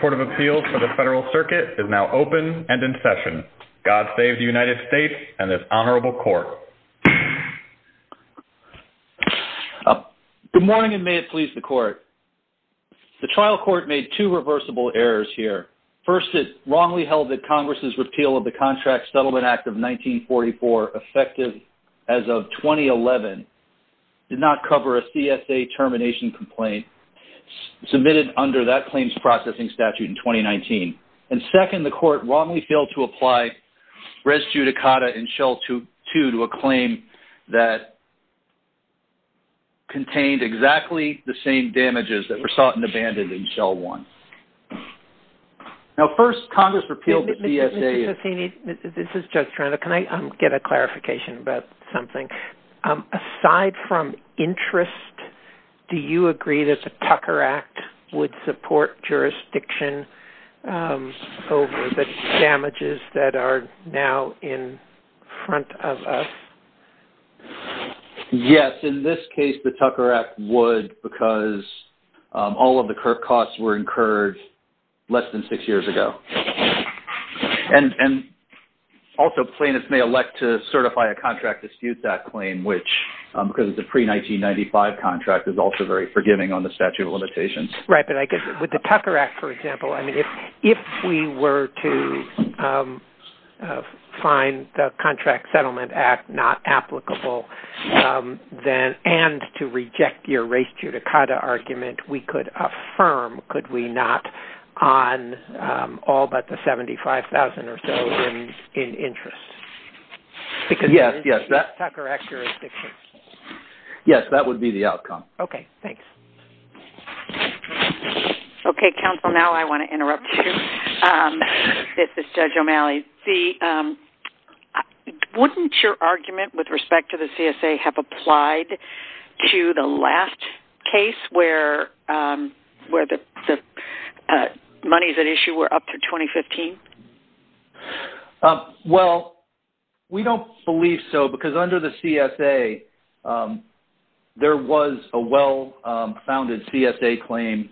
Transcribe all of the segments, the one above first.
Court of Appeals for the Federal Circuit is now open and in session. God save the United States and this Honorable Court. Good morning and may it please the Court. The trial court made two reversible errors here. First, it wrongly held that Congress's repeal of the Contract Settlement Act of 1944, effective as of 2011, did not cover a CSA termination complaint submitted under that claims processing statute in 2019. And second, the Court wrongly failed to apply res judicata in Shell 2 to a claim that contained exactly the same damages that were sought and abandoned in Shell 1. Now, first, Congress repealed the CSA... Mr. Cessini, this is Judge Toronto. Can I get a clarification about something? Aside from interest, do you agree that the Tucker Act would support jurisdiction over the damages that are now in front of us? Yes, in this case, the Tucker Act would because all of the costs were incurred less than six years ago. And also, plaintiffs may elect to certify a contract dispute that claim, which, because it's a pre-1995 contract, is also very forgiving on the statute of limitations. Right, but I guess with the Tucker Act, for example, I mean, if we were to find the Contract Settlement Act not applicable, and to reject your res judicata argument, we could affirm, could we not, on all but the $75,000 or so in interest? Yes, yes, that would be the outcome. Okay, thanks. Okay, counsel, now I want to interrupt you. This is Judge O'Malley. Wouldn't your argument with respect to the CSA have applied to the last case where the monies at issue were up to 2015? Well, we don't believe so because under the CSA, there was a well-founded CSA claim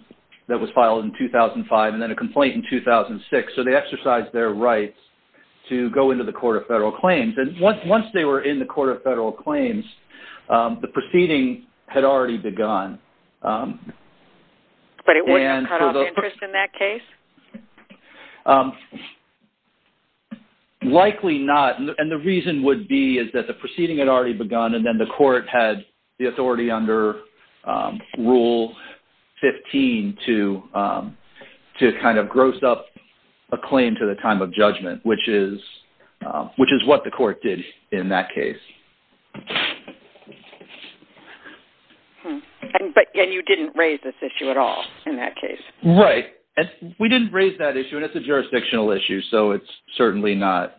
that was filed in 2005 and then a complaint in 2006. So, they exercised their rights to go into the Court of Federal Claims. And once they were in the Court of Federal Claims, the proceeding had already begun. But it wasn't cut off interest in that case? Likely not. And the reason would be is that the proceeding had already begun and then the Court had the authority under Rule 15 to kind of gross up a claim to the time of judgment, which is what the court did in that case. And you didn't raise this issue at all in that case? Right, and we didn't raise that issue and it's a jurisdictional issue. So, it's certainly not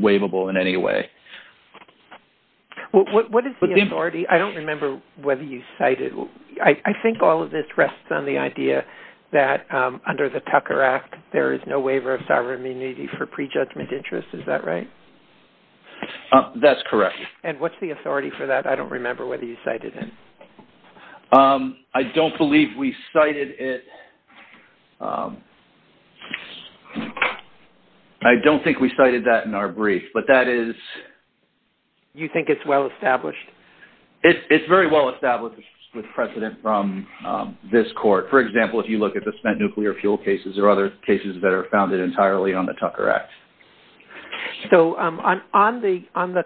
waivable in any way. What is the authority? I don't remember whether you cited. I think all of this rests on the idea that under the Tucker Act, there is no waiver of sovereign immunity for prejudgment interest. Is that right? That's correct. And what's the authority for that? I don't remember whether you cited it. I don't think we cited that in our brief, but that is... You think it's well-established? It's very well-established with precedent from this court. For example, if you look at the spent nuclear fuel cases or other cases that are founded entirely on the Tucker Act. So, on the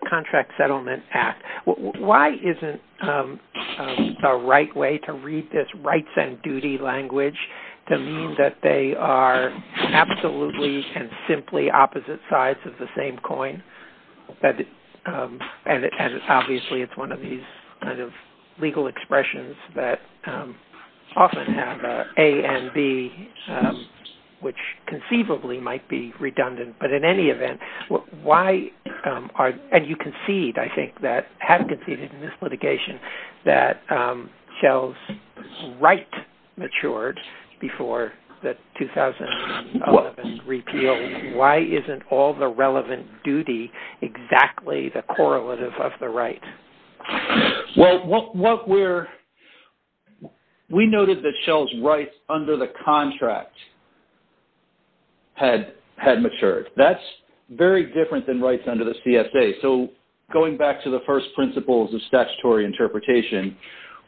Contract Settlement Act, why isn't the right way to read this rights and duty language to mean that they are absolutely and simply opposite sides of the same coin? And it's obviously, it's one of these kind of legal expressions that often have A and B, which conceivably might be redundant. But in any event, why are, and you concede, I think that, have conceded in this litigation, that Shell's right matured before the 2011 repeal. Why isn't all the relevant duty exactly the correlative of the right? Well, what we're... We noted that Shell's rights under the contract had matured. That's very different than rights under the CSA. So, going back to the first principles of statutory interpretation,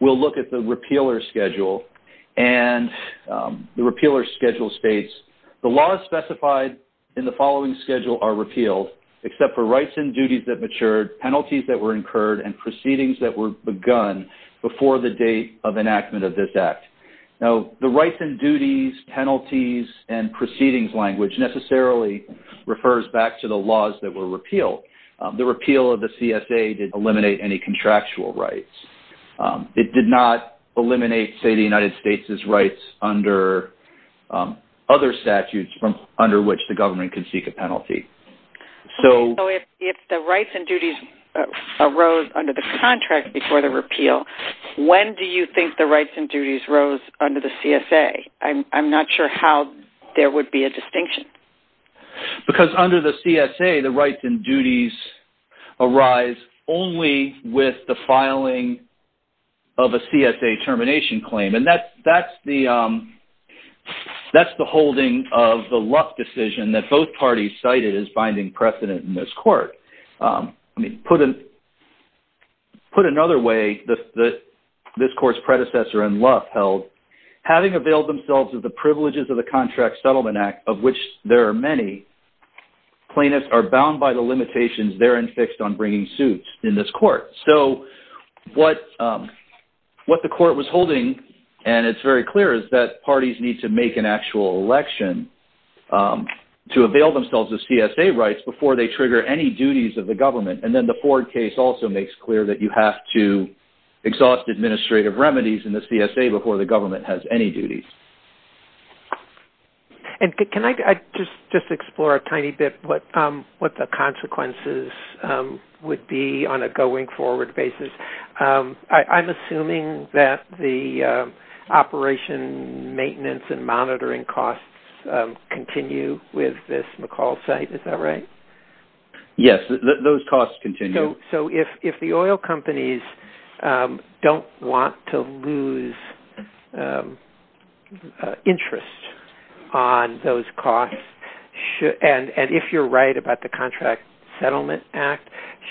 we'll look at the repealer schedule. And the repealer schedule states, the laws specified in the following schedule are repealed, except for rights and duties that occurred and proceedings that were begun before the date of enactment of this act. Now, the rights and duties, penalties, and proceedings language necessarily refers back to the laws that were repealed. The repeal of the CSA did eliminate any contractual rights. It did not eliminate, say, the United States' rights under other statutes from under which the government can seek a penalty. So, if the rights and duties arose under the contract before the repeal, when do you think the rights and duties rose under the CSA? I'm not sure how there would be a distinction. Because under the CSA, the rights and duties arise only with the filing of a CSA termination claim. And that's the holding of the Luff decision that both parties cited as finding precedent in this court. I mean, put another way that this court's predecessor in Luff held, having availed themselves of the privileges of the Contract Settlement Act, of which there are many, plaintiffs are bound by the limitations therein fixed on bringing suits in this court. What the court was holding, and it's very clear, is that parties need to make an actual election to avail themselves of CSA rights before they trigger any duties of the government. And then the Ford case also makes clear that you have to exhaust administrative remedies in the CSA before the government has any duties. Can I just explore a tiny bit what the consequences would be on a going forward basis? I'm assuming that the operation, maintenance and monitoring costs continue with this McCall site, is that right? Yes, those costs continue. So if the oil companies don't want to lose interest on those costs, and if you're right about the Contract Settlement Act,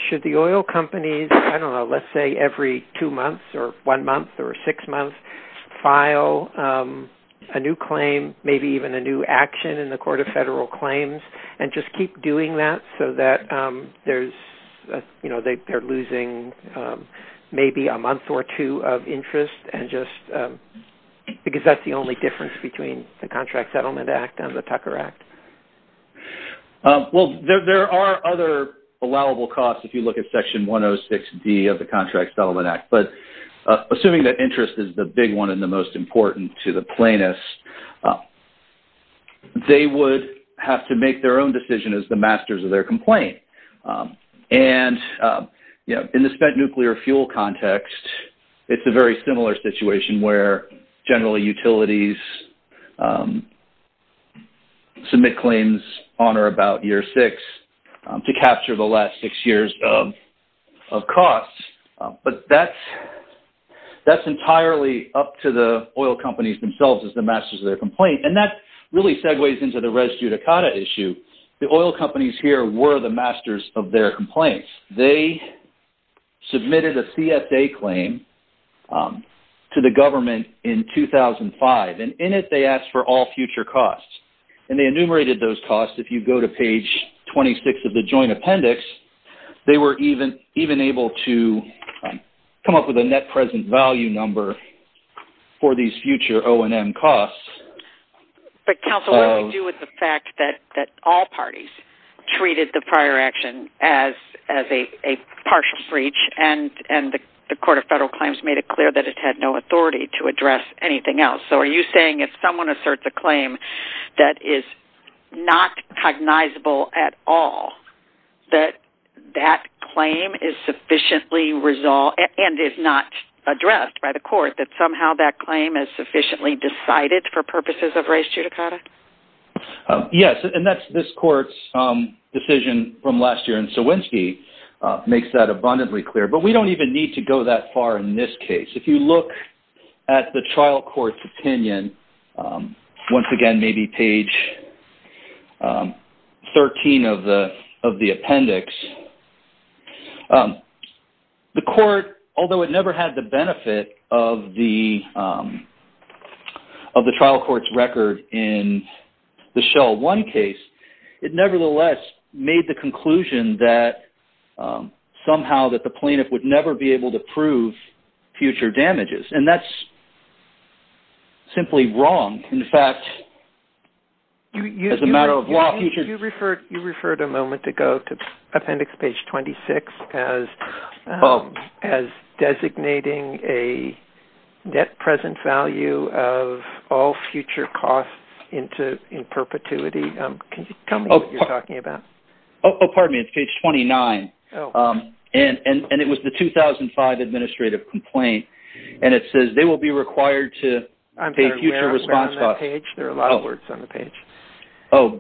should the oil companies, I don't know, let's say every two months or one month or six months, file a new claim, maybe even a new action in the Court of Federal Claims, and just keep doing that so that they're losing maybe a month or two of interest, because that's the only difference between the Contract Settlement Act and the Tucker Act? Well, there are other allowable costs if you look at Section 106D of the Contract Settlement Act, but assuming that interest is the big one and the most important to the plaintiffs, they would have to make their own decision as the masters of their complaint. And in the spent claims on or about year six to capture the last six years of costs, but that's entirely up to the oil companies themselves as the masters of their complaint. And that really segues into the res judicata issue. The oil companies here were the masters of their complaints. They submitted a CSA claim to the government in 2005, and in it they asked for all future costs. And they enumerated those costs. If you go to page 26 of the Joint Appendix, they were even able to come up with a net present value number for these future O&M costs. But counsel, what do we do with the fact that all parties treated the prior action as a partial breach and the Court of Federal Claims made it clear that it had no authority to address anything else? So are you saying if someone asserts a claim that is not cognizable at all, that that claim is sufficiently resolved and is not addressed by the court that somehow that claim is sufficiently decided for purposes of res judicata? Yes, and that's this court's decision from last year, and Sowinski makes that abundantly clear. But we don't even need to go that far in this case. If you look at the trial court's opinion, once again, maybe page 13 of the appendix, the court, although it never had the benefit of the Shell 1 case, it nevertheless made the conclusion that somehow that the plaintiff would never be able to prove future damages. And that's simply wrong. In fact, as a matter of law... You referred a moment ago to appendix page 26 as designating a net present value of all future costs in perpetuity. Can you tell me what you're talking about? Oh, pardon me. It's page 29, and it was the 2005 administrative complaint. And it says, they will be required to pay future response costs... I'm sorry, we're not on that page. There are a lot of words on the page. Oh,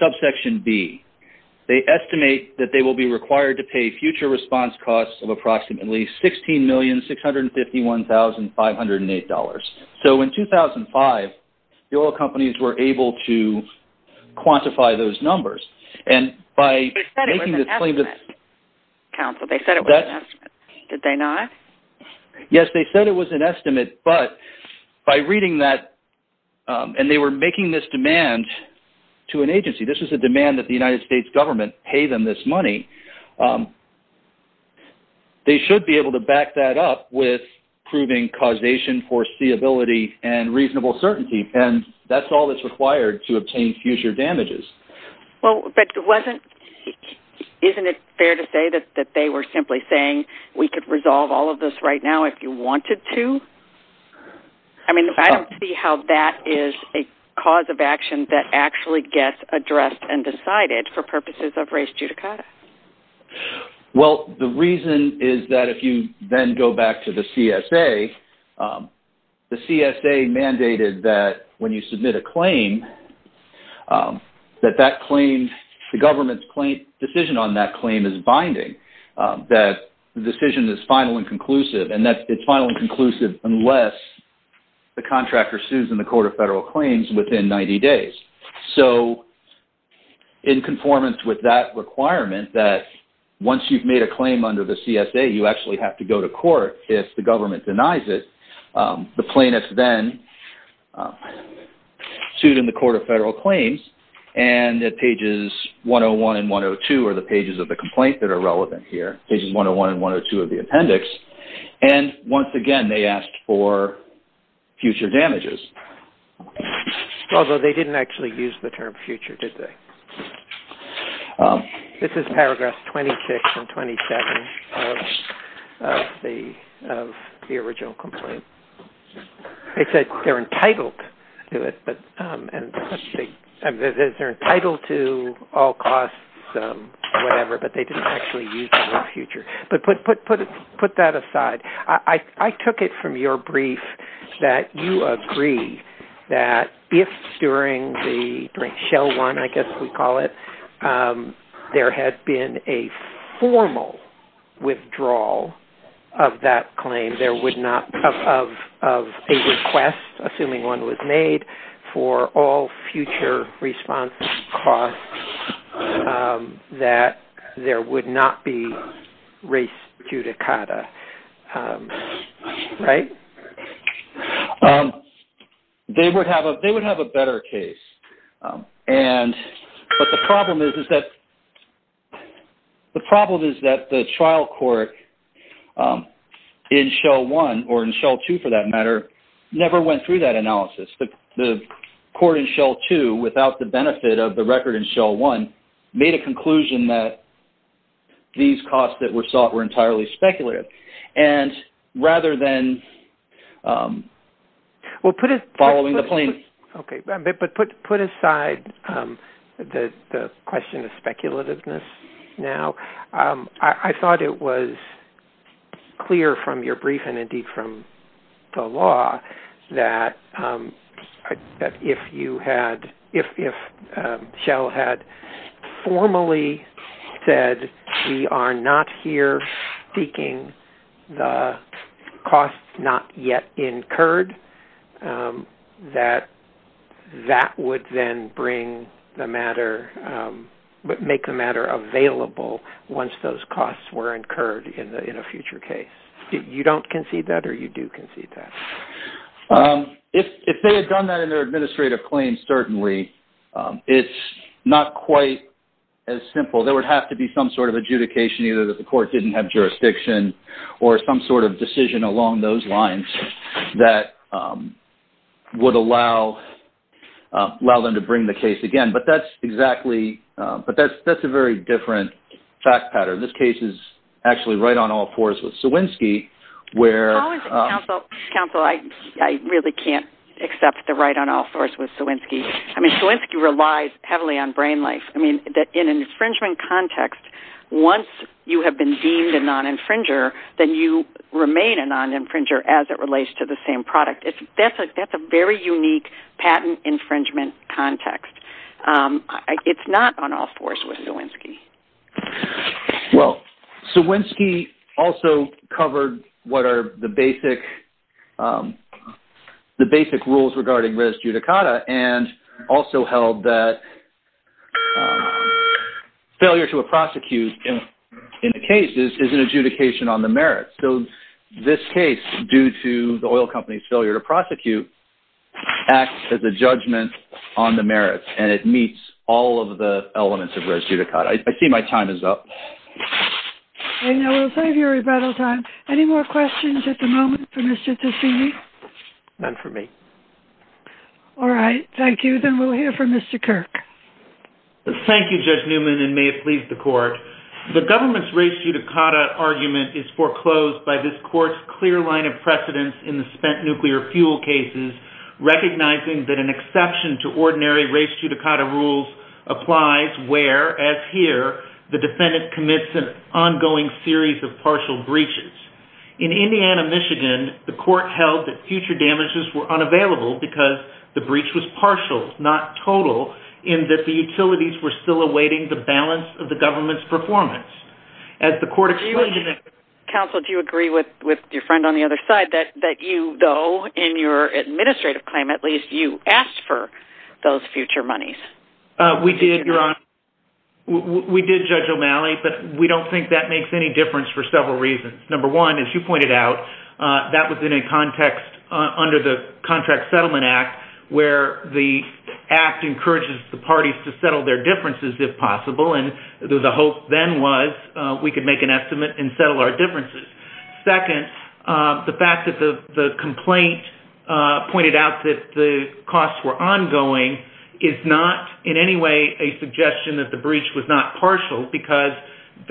subsection B. They estimate that they will be required to pay future response costs of approximately $16,651,508. So in 2005, the oil companies were able to quantify those numbers. They said it was an estimate, counsel. They said it was an estimate. Did they not? Yes, they said it was an estimate, but by reading that... And they were making this demand to an agency. This was a demand that the United States government pay them this money. They should be able to back that up with proving causation, foreseeability, and reasonable certainty. And that's all that's required to obtain future damages. Well, but wasn't... Isn't it fair to say that they were simply saying, we could resolve all of this right now if you wanted to? I mean, I don't see how that is a cause of action that actually gets addressed and decided for purposes of res judicata. Well, the reason is that if you then go back to the CSA, the CSA mandated that when you submit a claim, that that claim, the government's claim, decision on that claim is binding. That the decision is final and conclusive. And that it's final and conclusive unless the contractor sues in the Court of Federal Claims within 90 days. So, in conformance with that requirement that once you've made a claim under the CSA, you actually have to go to court if the government denies it. The plaintiff then sued in the Court of Federal Claims and at pages 101 and 102 are the pages of the complaint that are relevant here. Pages 101 and 102 of the appendix. And once again, they asked for future damages. Although they didn't actually use the term future, did they? This is paragraph 26 and 27 of the original complaint. They said they're entitled to all costs, whatever, but they didn't actually use the word future. But put that aside. I took it from your brief that you agree that if during the Shell One, I guess we call it, there had been a formal withdrawal of that claim, of a request, assuming one was made, for all future response costs, that there would not be res judicata. Right? They would have a better case. But the problem is that the trial court in Shell One or in Shell Two, for that matter, never went through that analysis. The court in Shell Two, without the benefit of the record in Shell One, made a conclusion that these costs that were sought were entirely speculative. And rather than following the plaintiff... Okay. But put aside the question of speculativeness now. I thought it was clear from your brief and indeed from the law that if Shell had formally said, we are not here seeking the costs not yet incurred, that that would then make the matter available once those costs were incurred in a future case. You don't concede that or you do concede that? If they had done that in their adjudication, either that the court didn't have jurisdiction or some sort of decision along those lines that would allow them to bring the case again. But that's exactly... But that's a very different fact pattern. This case is actually right on all fours with Swinsky, where... How is it, counsel? I really can't accept the right on all fours with Swinsky. I mean, relies heavily on brain life. I mean, in an infringement context, once you have been deemed a non-infringer, then you remain a non-infringer as it relates to the same product. That's a very unique patent infringement context. It's not on all fours with Swinsky. Well, Swinsky also covered what are the basic rules regarding res judicata and also held that failure to prosecute in the case is an adjudication on the merits. So this case, due to the oil company's failure to prosecute, acts as a judgment on the merits, and it meets all of the elements of res judicata. I see my time is up. Okay, now we'll save your rebuttal time. Any more questions at the moment for Mr. Tassini? None for me. All right. Thank you. Then we'll hear from Mr. Kirk. Thank you, Judge Newman, and may it please the court. The government's res judicata argument is foreclosed by this court's clear line of precedence in the spent nuclear fuel cases, recognizing that an exception to ordinary res judicata rules applies where, as here, the defendant commits an ongoing series of partial breaches. In Indiana, Michigan, the court held that future damages were unavailable because the breach was partial, not total, in that the utilities were still awaiting the balance of the government's performance. As the court explained... Counsel, do you agree with your friend on the other side that you, though, in your administrative claim, at least, you asked for those future monies? We did, Your Honor. We did, Judge O'Malley, but we don't think that makes any difference for several reasons. Number one, as you pointed out, that was in a context under the Contract Settlement Act where the act encourages the parties to settle their differences, if possible, and the hope then was we could make an estimate and settle our differences. Second, the fact that the complaint pointed out that the costs were ongoing is not in any way a suggestion that breach was not partial because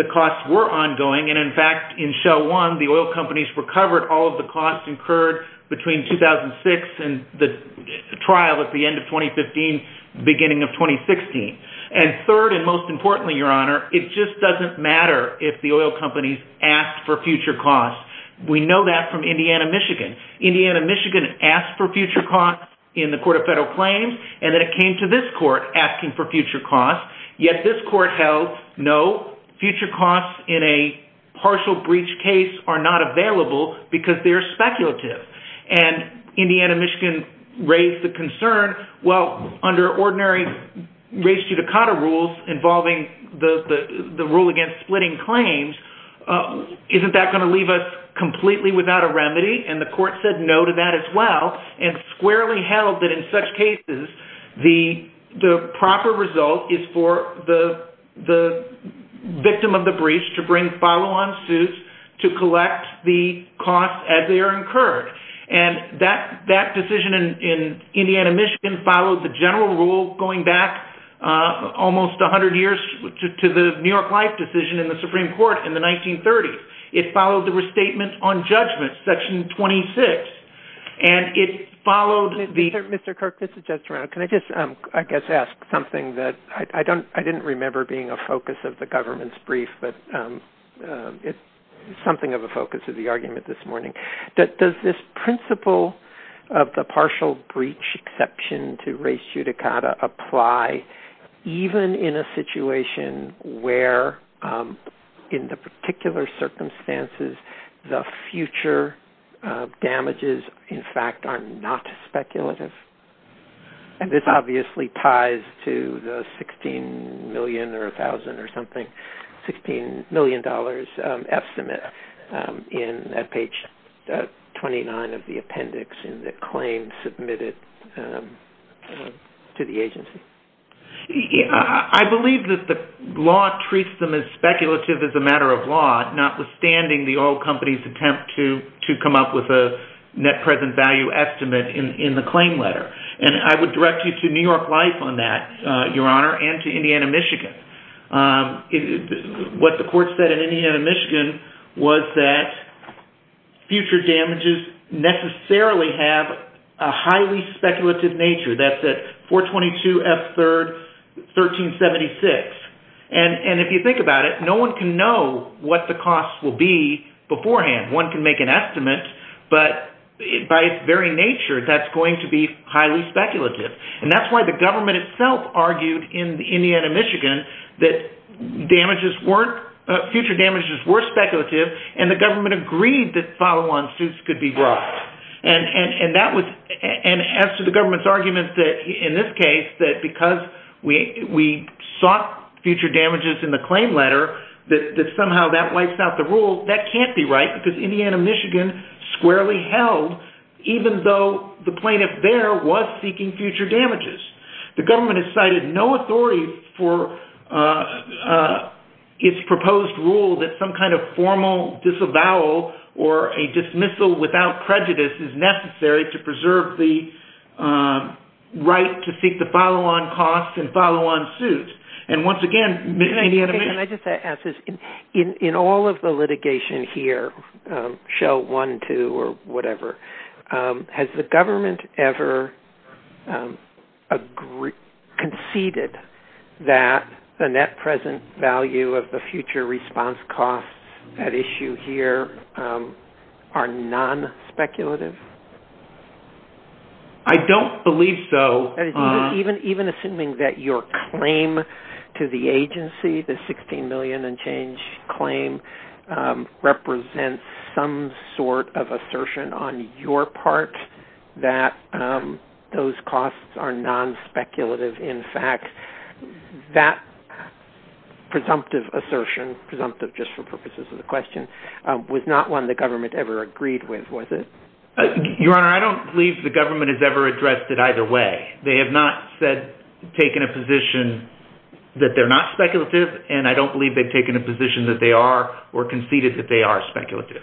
the costs were ongoing. In fact, in Shell One, the oil companies recovered all of the costs incurred between 2006 and the trial at the end of 2015, beginning of 2016. Third, and most importantly, Your Honor, it just doesn't matter if the oil companies asked for future costs. We know that from Indiana, Michigan. Indiana, Michigan asked for future costs in the Court of Federal Claims, and then it came to this court asking for future costs, yet this court held no, future costs in a partial breach case are not available because they're speculative. And Indiana, Michigan raised the concern, well, under ordinary race judicata rules involving the rule against splitting claims, isn't that going to leave us completely without a remedy? And the court said no to that as well, and squarely held that in such cases, the proper result is for the victim of the breach to bring follow-on suits to collect the costs as they are incurred. And that decision in Indiana, Michigan followed the general rule going back almost 100 years to the New York Life decision in the Supreme Court in the 1930s. It followed the restatement on judgment, Section 26, and it followed the... Mr. Kirk, this is just around. Can I just, I guess, ask something that I didn't remember being a focus of the government's brief, but it's something of a focus of the argument this morning. Does this principle of the partial breach exception to race judicata apply even in a situation where, in the particular circumstances the future damages, in fact, are not speculative? And this obviously ties to the $16 million or $1,000 or something, $16 million estimate in page 29 of the appendix in the claim submitted to the agency. I believe that the law treats them as speculative as a matter of law, notwithstanding the oil company's attempt to come up with a net present value estimate in the claim letter. And I would direct you to New York Life on that, Your Honor, and to Indiana, Michigan. What the court said in Indiana, Michigan was that future damages necessarily have a highly speculative nature. That's at 422F3rd 1376. And if you think about it, no one can know what the costs will be beforehand. One can make an estimate, but by its very nature, that's going to be highly speculative. And that's why the government itself argued in Indiana, Michigan that future damages were speculative, and the government agreed that follow-on suits could be brought. And as to the government's argument that, in this case, because we sought future damages in the claim letter, that somehow that wipes out the rule, that can't be right because Indiana, Michigan squarely held, even though the plaintiff there was seeking future damages. The government has cited no authority for its proposed rule that some kind of formal disavowal or a dismissal without prejudice is necessary to preserve the right to seek the follow-on costs and follow-on suits. And once again, Indiana, Michigan... Can I just ask this? In all of the litigation here, show one, two, or whatever, has the government ever conceded that the net present value of the future response costs at issue here are non-speculative? I don't believe so. Even assuming that your claim to the agency, the $16 million and change claim, represents some sort of assertion on your part that those costs are non-speculative. In fact, that presumptive assertion, presumptive just for purposes of the question, was not one the government ever agreed with, was it? Your Honor, I don't believe the government has ever addressed it either way. They have not said, taken a position that they're not speculative, and I don't believe they've taken a position that they are or conceded that they are speculative.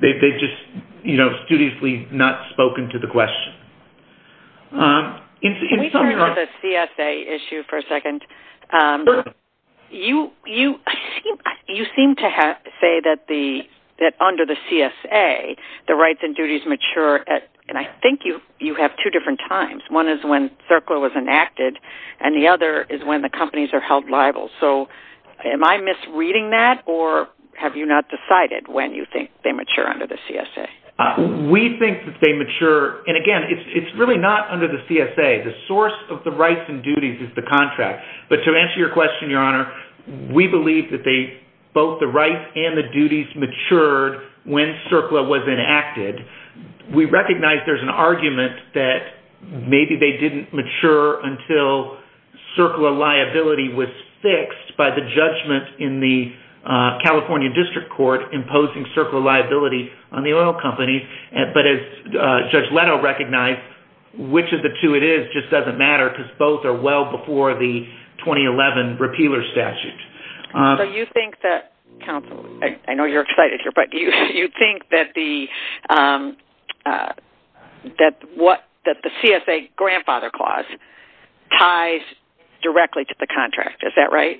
They've just studiously not spoken to the question. Can we turn to the CSA issue for a second? You seem to say that under the CSA, the rights and duties mature at, and I think you have two different times. One is when CERCLA was enacted, and the other is when the companies are held liable. Am I misreading that, or have you not decided when you think they mature under the CSA? We think that they mature, and again, it's really not under the CSA. The source of the contract. But to answer your question, Your Honor, we believe that both the rights and the duties matured when CERCLA was enacted. We recognize there's an argument that maybe they didn't mature until CERCLA liability was fixed by the judgment in the California District Court imposing CERCLA liability on the oil companies. But as Judge Leto recognized, which of the two it is just doesn't matter, because both are well before the 2011 repealer statute. So you think that, counsel, I know you're excited here, but do you think that the CSA grandfather clause ties directly to the contract? Is that right?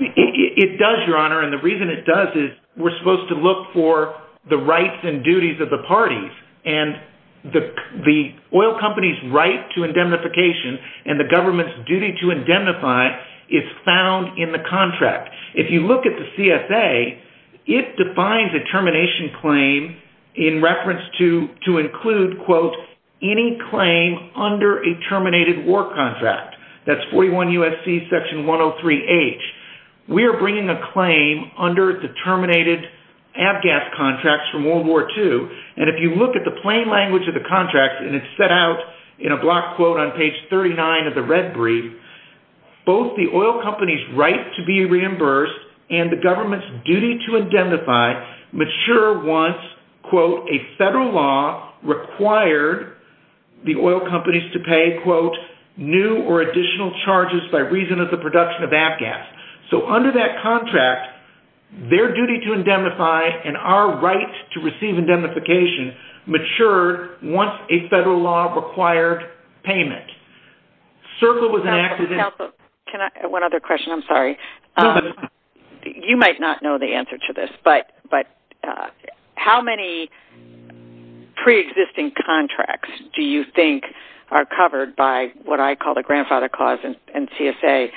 It does, Your Honor, and the reason it does is we're supposed to look for the rights and duties of the parties, and the oil company's right to indemnification and the government's duty to indemnify is found in the contract. If you look at the CSA, it defines a termination claim in reference to include, quote, any claim under a terminated war contract. That's 41 USC section 103 H. We are bringing a claim under the terminated ABGAS contracts from World War II, and if you look at the plain language of the contract, and it's set out in a block quote on page 39 of the red brief, both the oil company's right to be reimbursed and the government's duty to indemnify mature once, quote, a federal law required the oil companies to pay, quote, new or additional reduction of ABGAS. So under that contract, their duty to indemnify and our right to receive indemnification matured once a federal law required payment. Circle was enacted in... One other question, I'm sorry. You might not know the answer to this, but how many pre-existing contracts do you think are covered by what I call the grandfather clause in CSA?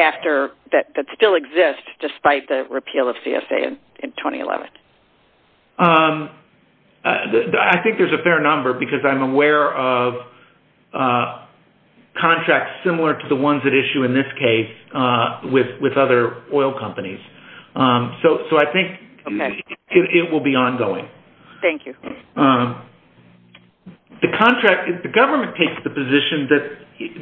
After that, that still exists despite the repeal of CSA in 2011? I think there's a fair number because I'm aware of contracts similar to the ones that issue in this case with other oil companies. So I think it will be ongoing. Thank you. Okay. The government takes the position that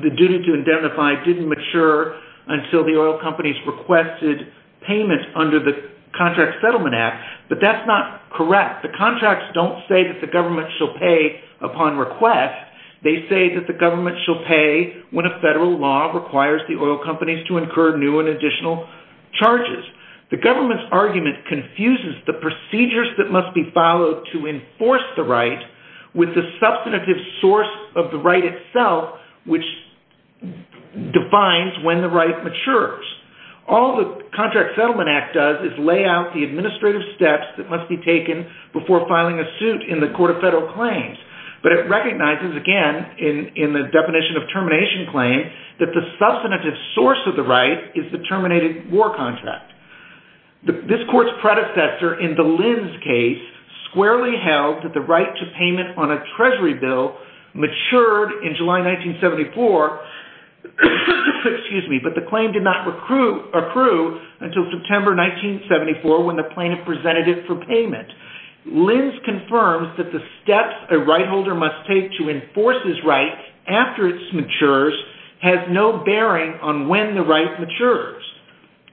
the duty to indemnify didn't mature until the oil companies requested payment under the Contract Settlement Act, but that's not correct. The contracts don't say that the government shall pay upon request. They say that the government shall pay when a federal law requires the oil companies to incur new and additional with the substantive source of the right itself, which defines when the right matures. All the Contract Settlement Act does is lay out the administrative steps that must be taken before filing a suit in the Court of Federal Claims. But it recognizes again in the definition of termination claim that the substantive source of the right is the terminated war contract. This court's predecessor in the Lins case squarely held that the right to payment on a Treasury bill matured in July 1974, but the claim did not approve until September 1974 when the plaintiff presented it for payment. Lins confirms that the steps a right holder must take to enforce his right after it matures has no bearing on when the right matures.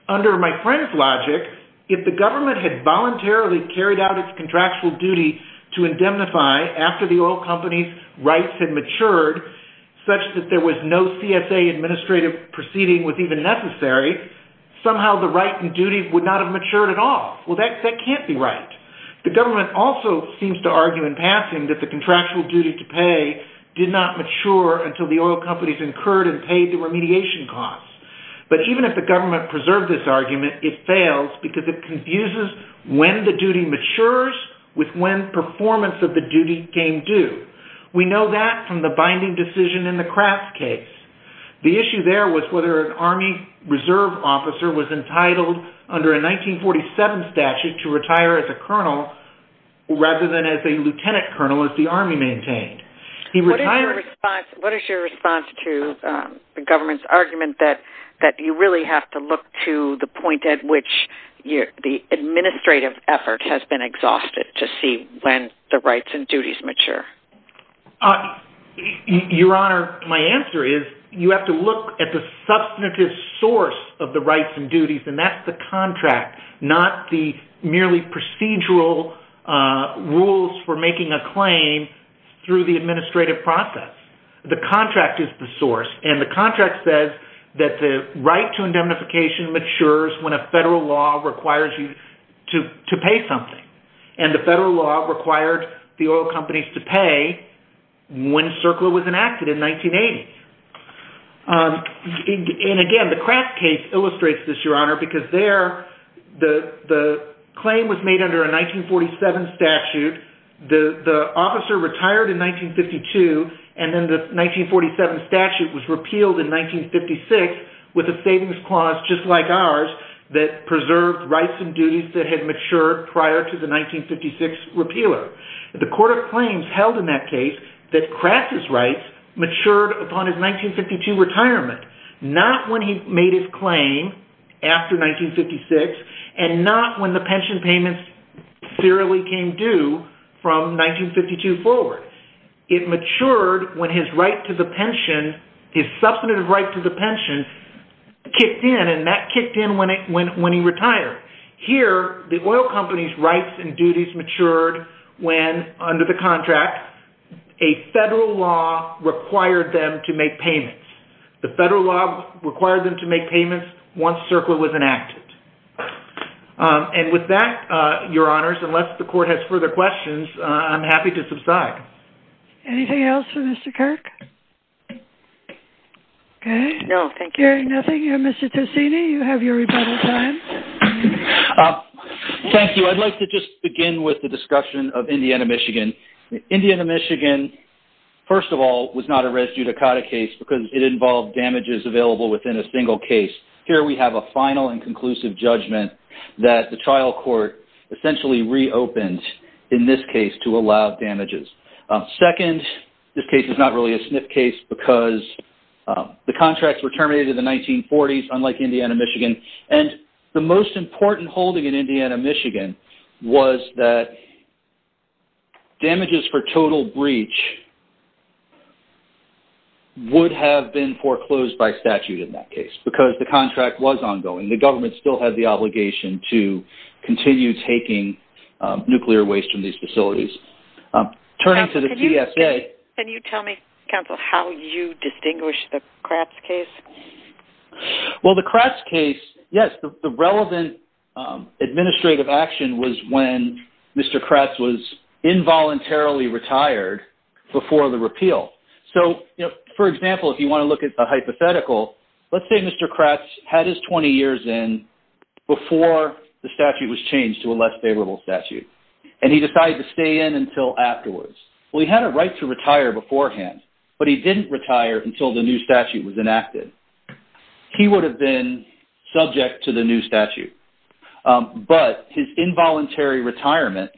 Under my friend's logic, if the government had voluntarily carried out its contractual duty to indemnify after the oil company's rights had matured such that there was no CSA administrative proceeding was even necessary, somehow the right and duties would not have matured at all. Well, that can't be right. The government also seems to argue in passing that the contractual duty to pay did not mature until the oil companies incurred and paid the remediation costs. But even if the government preserved this argument, it fails because it confuses when the duty matures with when performance of the duty came due. We know that from the binding decision in the Kraft case. The issue there was whether an Army reserve officer was entitled under a 1947 statute to retire as a colonel rather than as a lieutenant colonel as the Army maintained. What is your response to the government's argument that you really have to look to the point at which the administrative effort has been exhausted to see when the rights and duties mature? Your Honor, my answer is you have to look at the substantive source of the procedural rules for making a claim through the administrative process. The contract is the source and the contract says that the right to indemnification matures when a federal law requires you to pay something. And the federal law required the oil companies to pay when CERCLA was enacted in 1980. And again, the Kraft case illustrates this, Your Honor, because the claim was made under a 1947 statute. The officer retired in 1952 and then the 1947 statute was repealed in 1956 with a savings clause just like ours that preserved rights and duties that had matured prior to the 1956 repealer. The Court of Claims held in that case that Kraft's rights matured upon his 1952 retirement, not when he made his claim after 1956 and not when the pension payments serially came due from 1952 forward. It matured when his right to the pension, his substantive right to the pension, kicked in and that kicked in when he retired. Here, the oil companies' rights and duties matured when, under the contract, a federal law required them to make payments. The federal law required them to make payments once CERCLA was enacted. And with that, Your Honors, unless the Court has further questions, I'm happy to subside. Anything else for Mr. Kirk? Okay. Hearing nothing, Mr. Tosini, you have your rebuttal time. Thank you. I'd like to just begin with the discussion of Indiana, Michigan. Indiana, Michigan, first of all, was not a res judicata case because it involved damages available within a single case. Here we have a final and conclusive judgment that the trial court essentially reopened in this case to allow damages. Second, this case is not really a SNF case because the contracts were terminated in the 1940s, unlike Indiana, Michigan. And the most important holding in Indiana, Michigan was that damages for total breach would have been foreclosed by statute in that case because the contract was ongoing. The contract was ongoing. So, it was not taking nuclear waste from these facilities. Can you tell me, counsel, how you distinguish the Kratz case? Well, the Kratz case, yes, the relevant administrative action was when Mr. Kratz was involuntarily retired before the repeal. So, for example, if you want to look at the hypothetical, let's say Mr. Kratz had his 20 years in before the statute was changed to a less favorable statute, and he decided to stay in until afterwards. Well, he had a right to retire beforehand, but he didn't retire until the new statute was enacted. He would have been subject to the new statute. But his involuntary retirement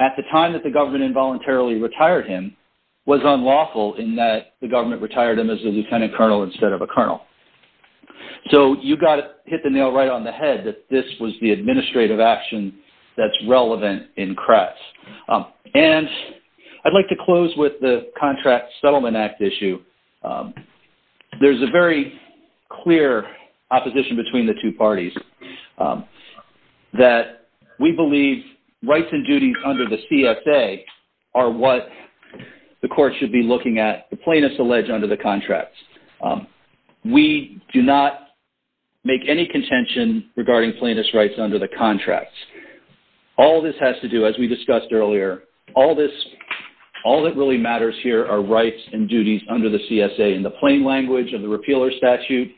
at the time that the government involuntarily retired him was unlawful in that the government retired him as a lieutenant colonel instead of a colonel. So, you got to hit the nail right on the head that this was the administrative action that's relevant in Kratz. And I'd like to close with the Contract Settlement Act issue. There's a very clear opposition between the two parties that we believe rights and duties under the CSA are what the court should be looking at, the plaintiff's alleged under the contracts. We do not make any contention regarding plaintiff's rights under the contracts. All this has to do, as we discussed earlier, all that really matters here are rights and duties under the CSA in the plain language of the repealer statute.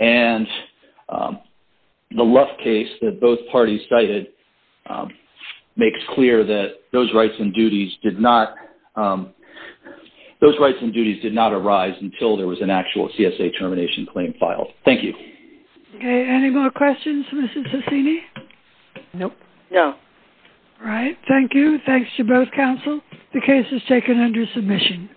And the Luff case that both parties cited makes clear that those rights and duties did not arise until there was an actual CSA termination claim filed. Thank you. Okay. Any more questions, Mrs. Sassini? Nope. No. All right. Thank you. Thanks to both counsel. The case is taken under submission.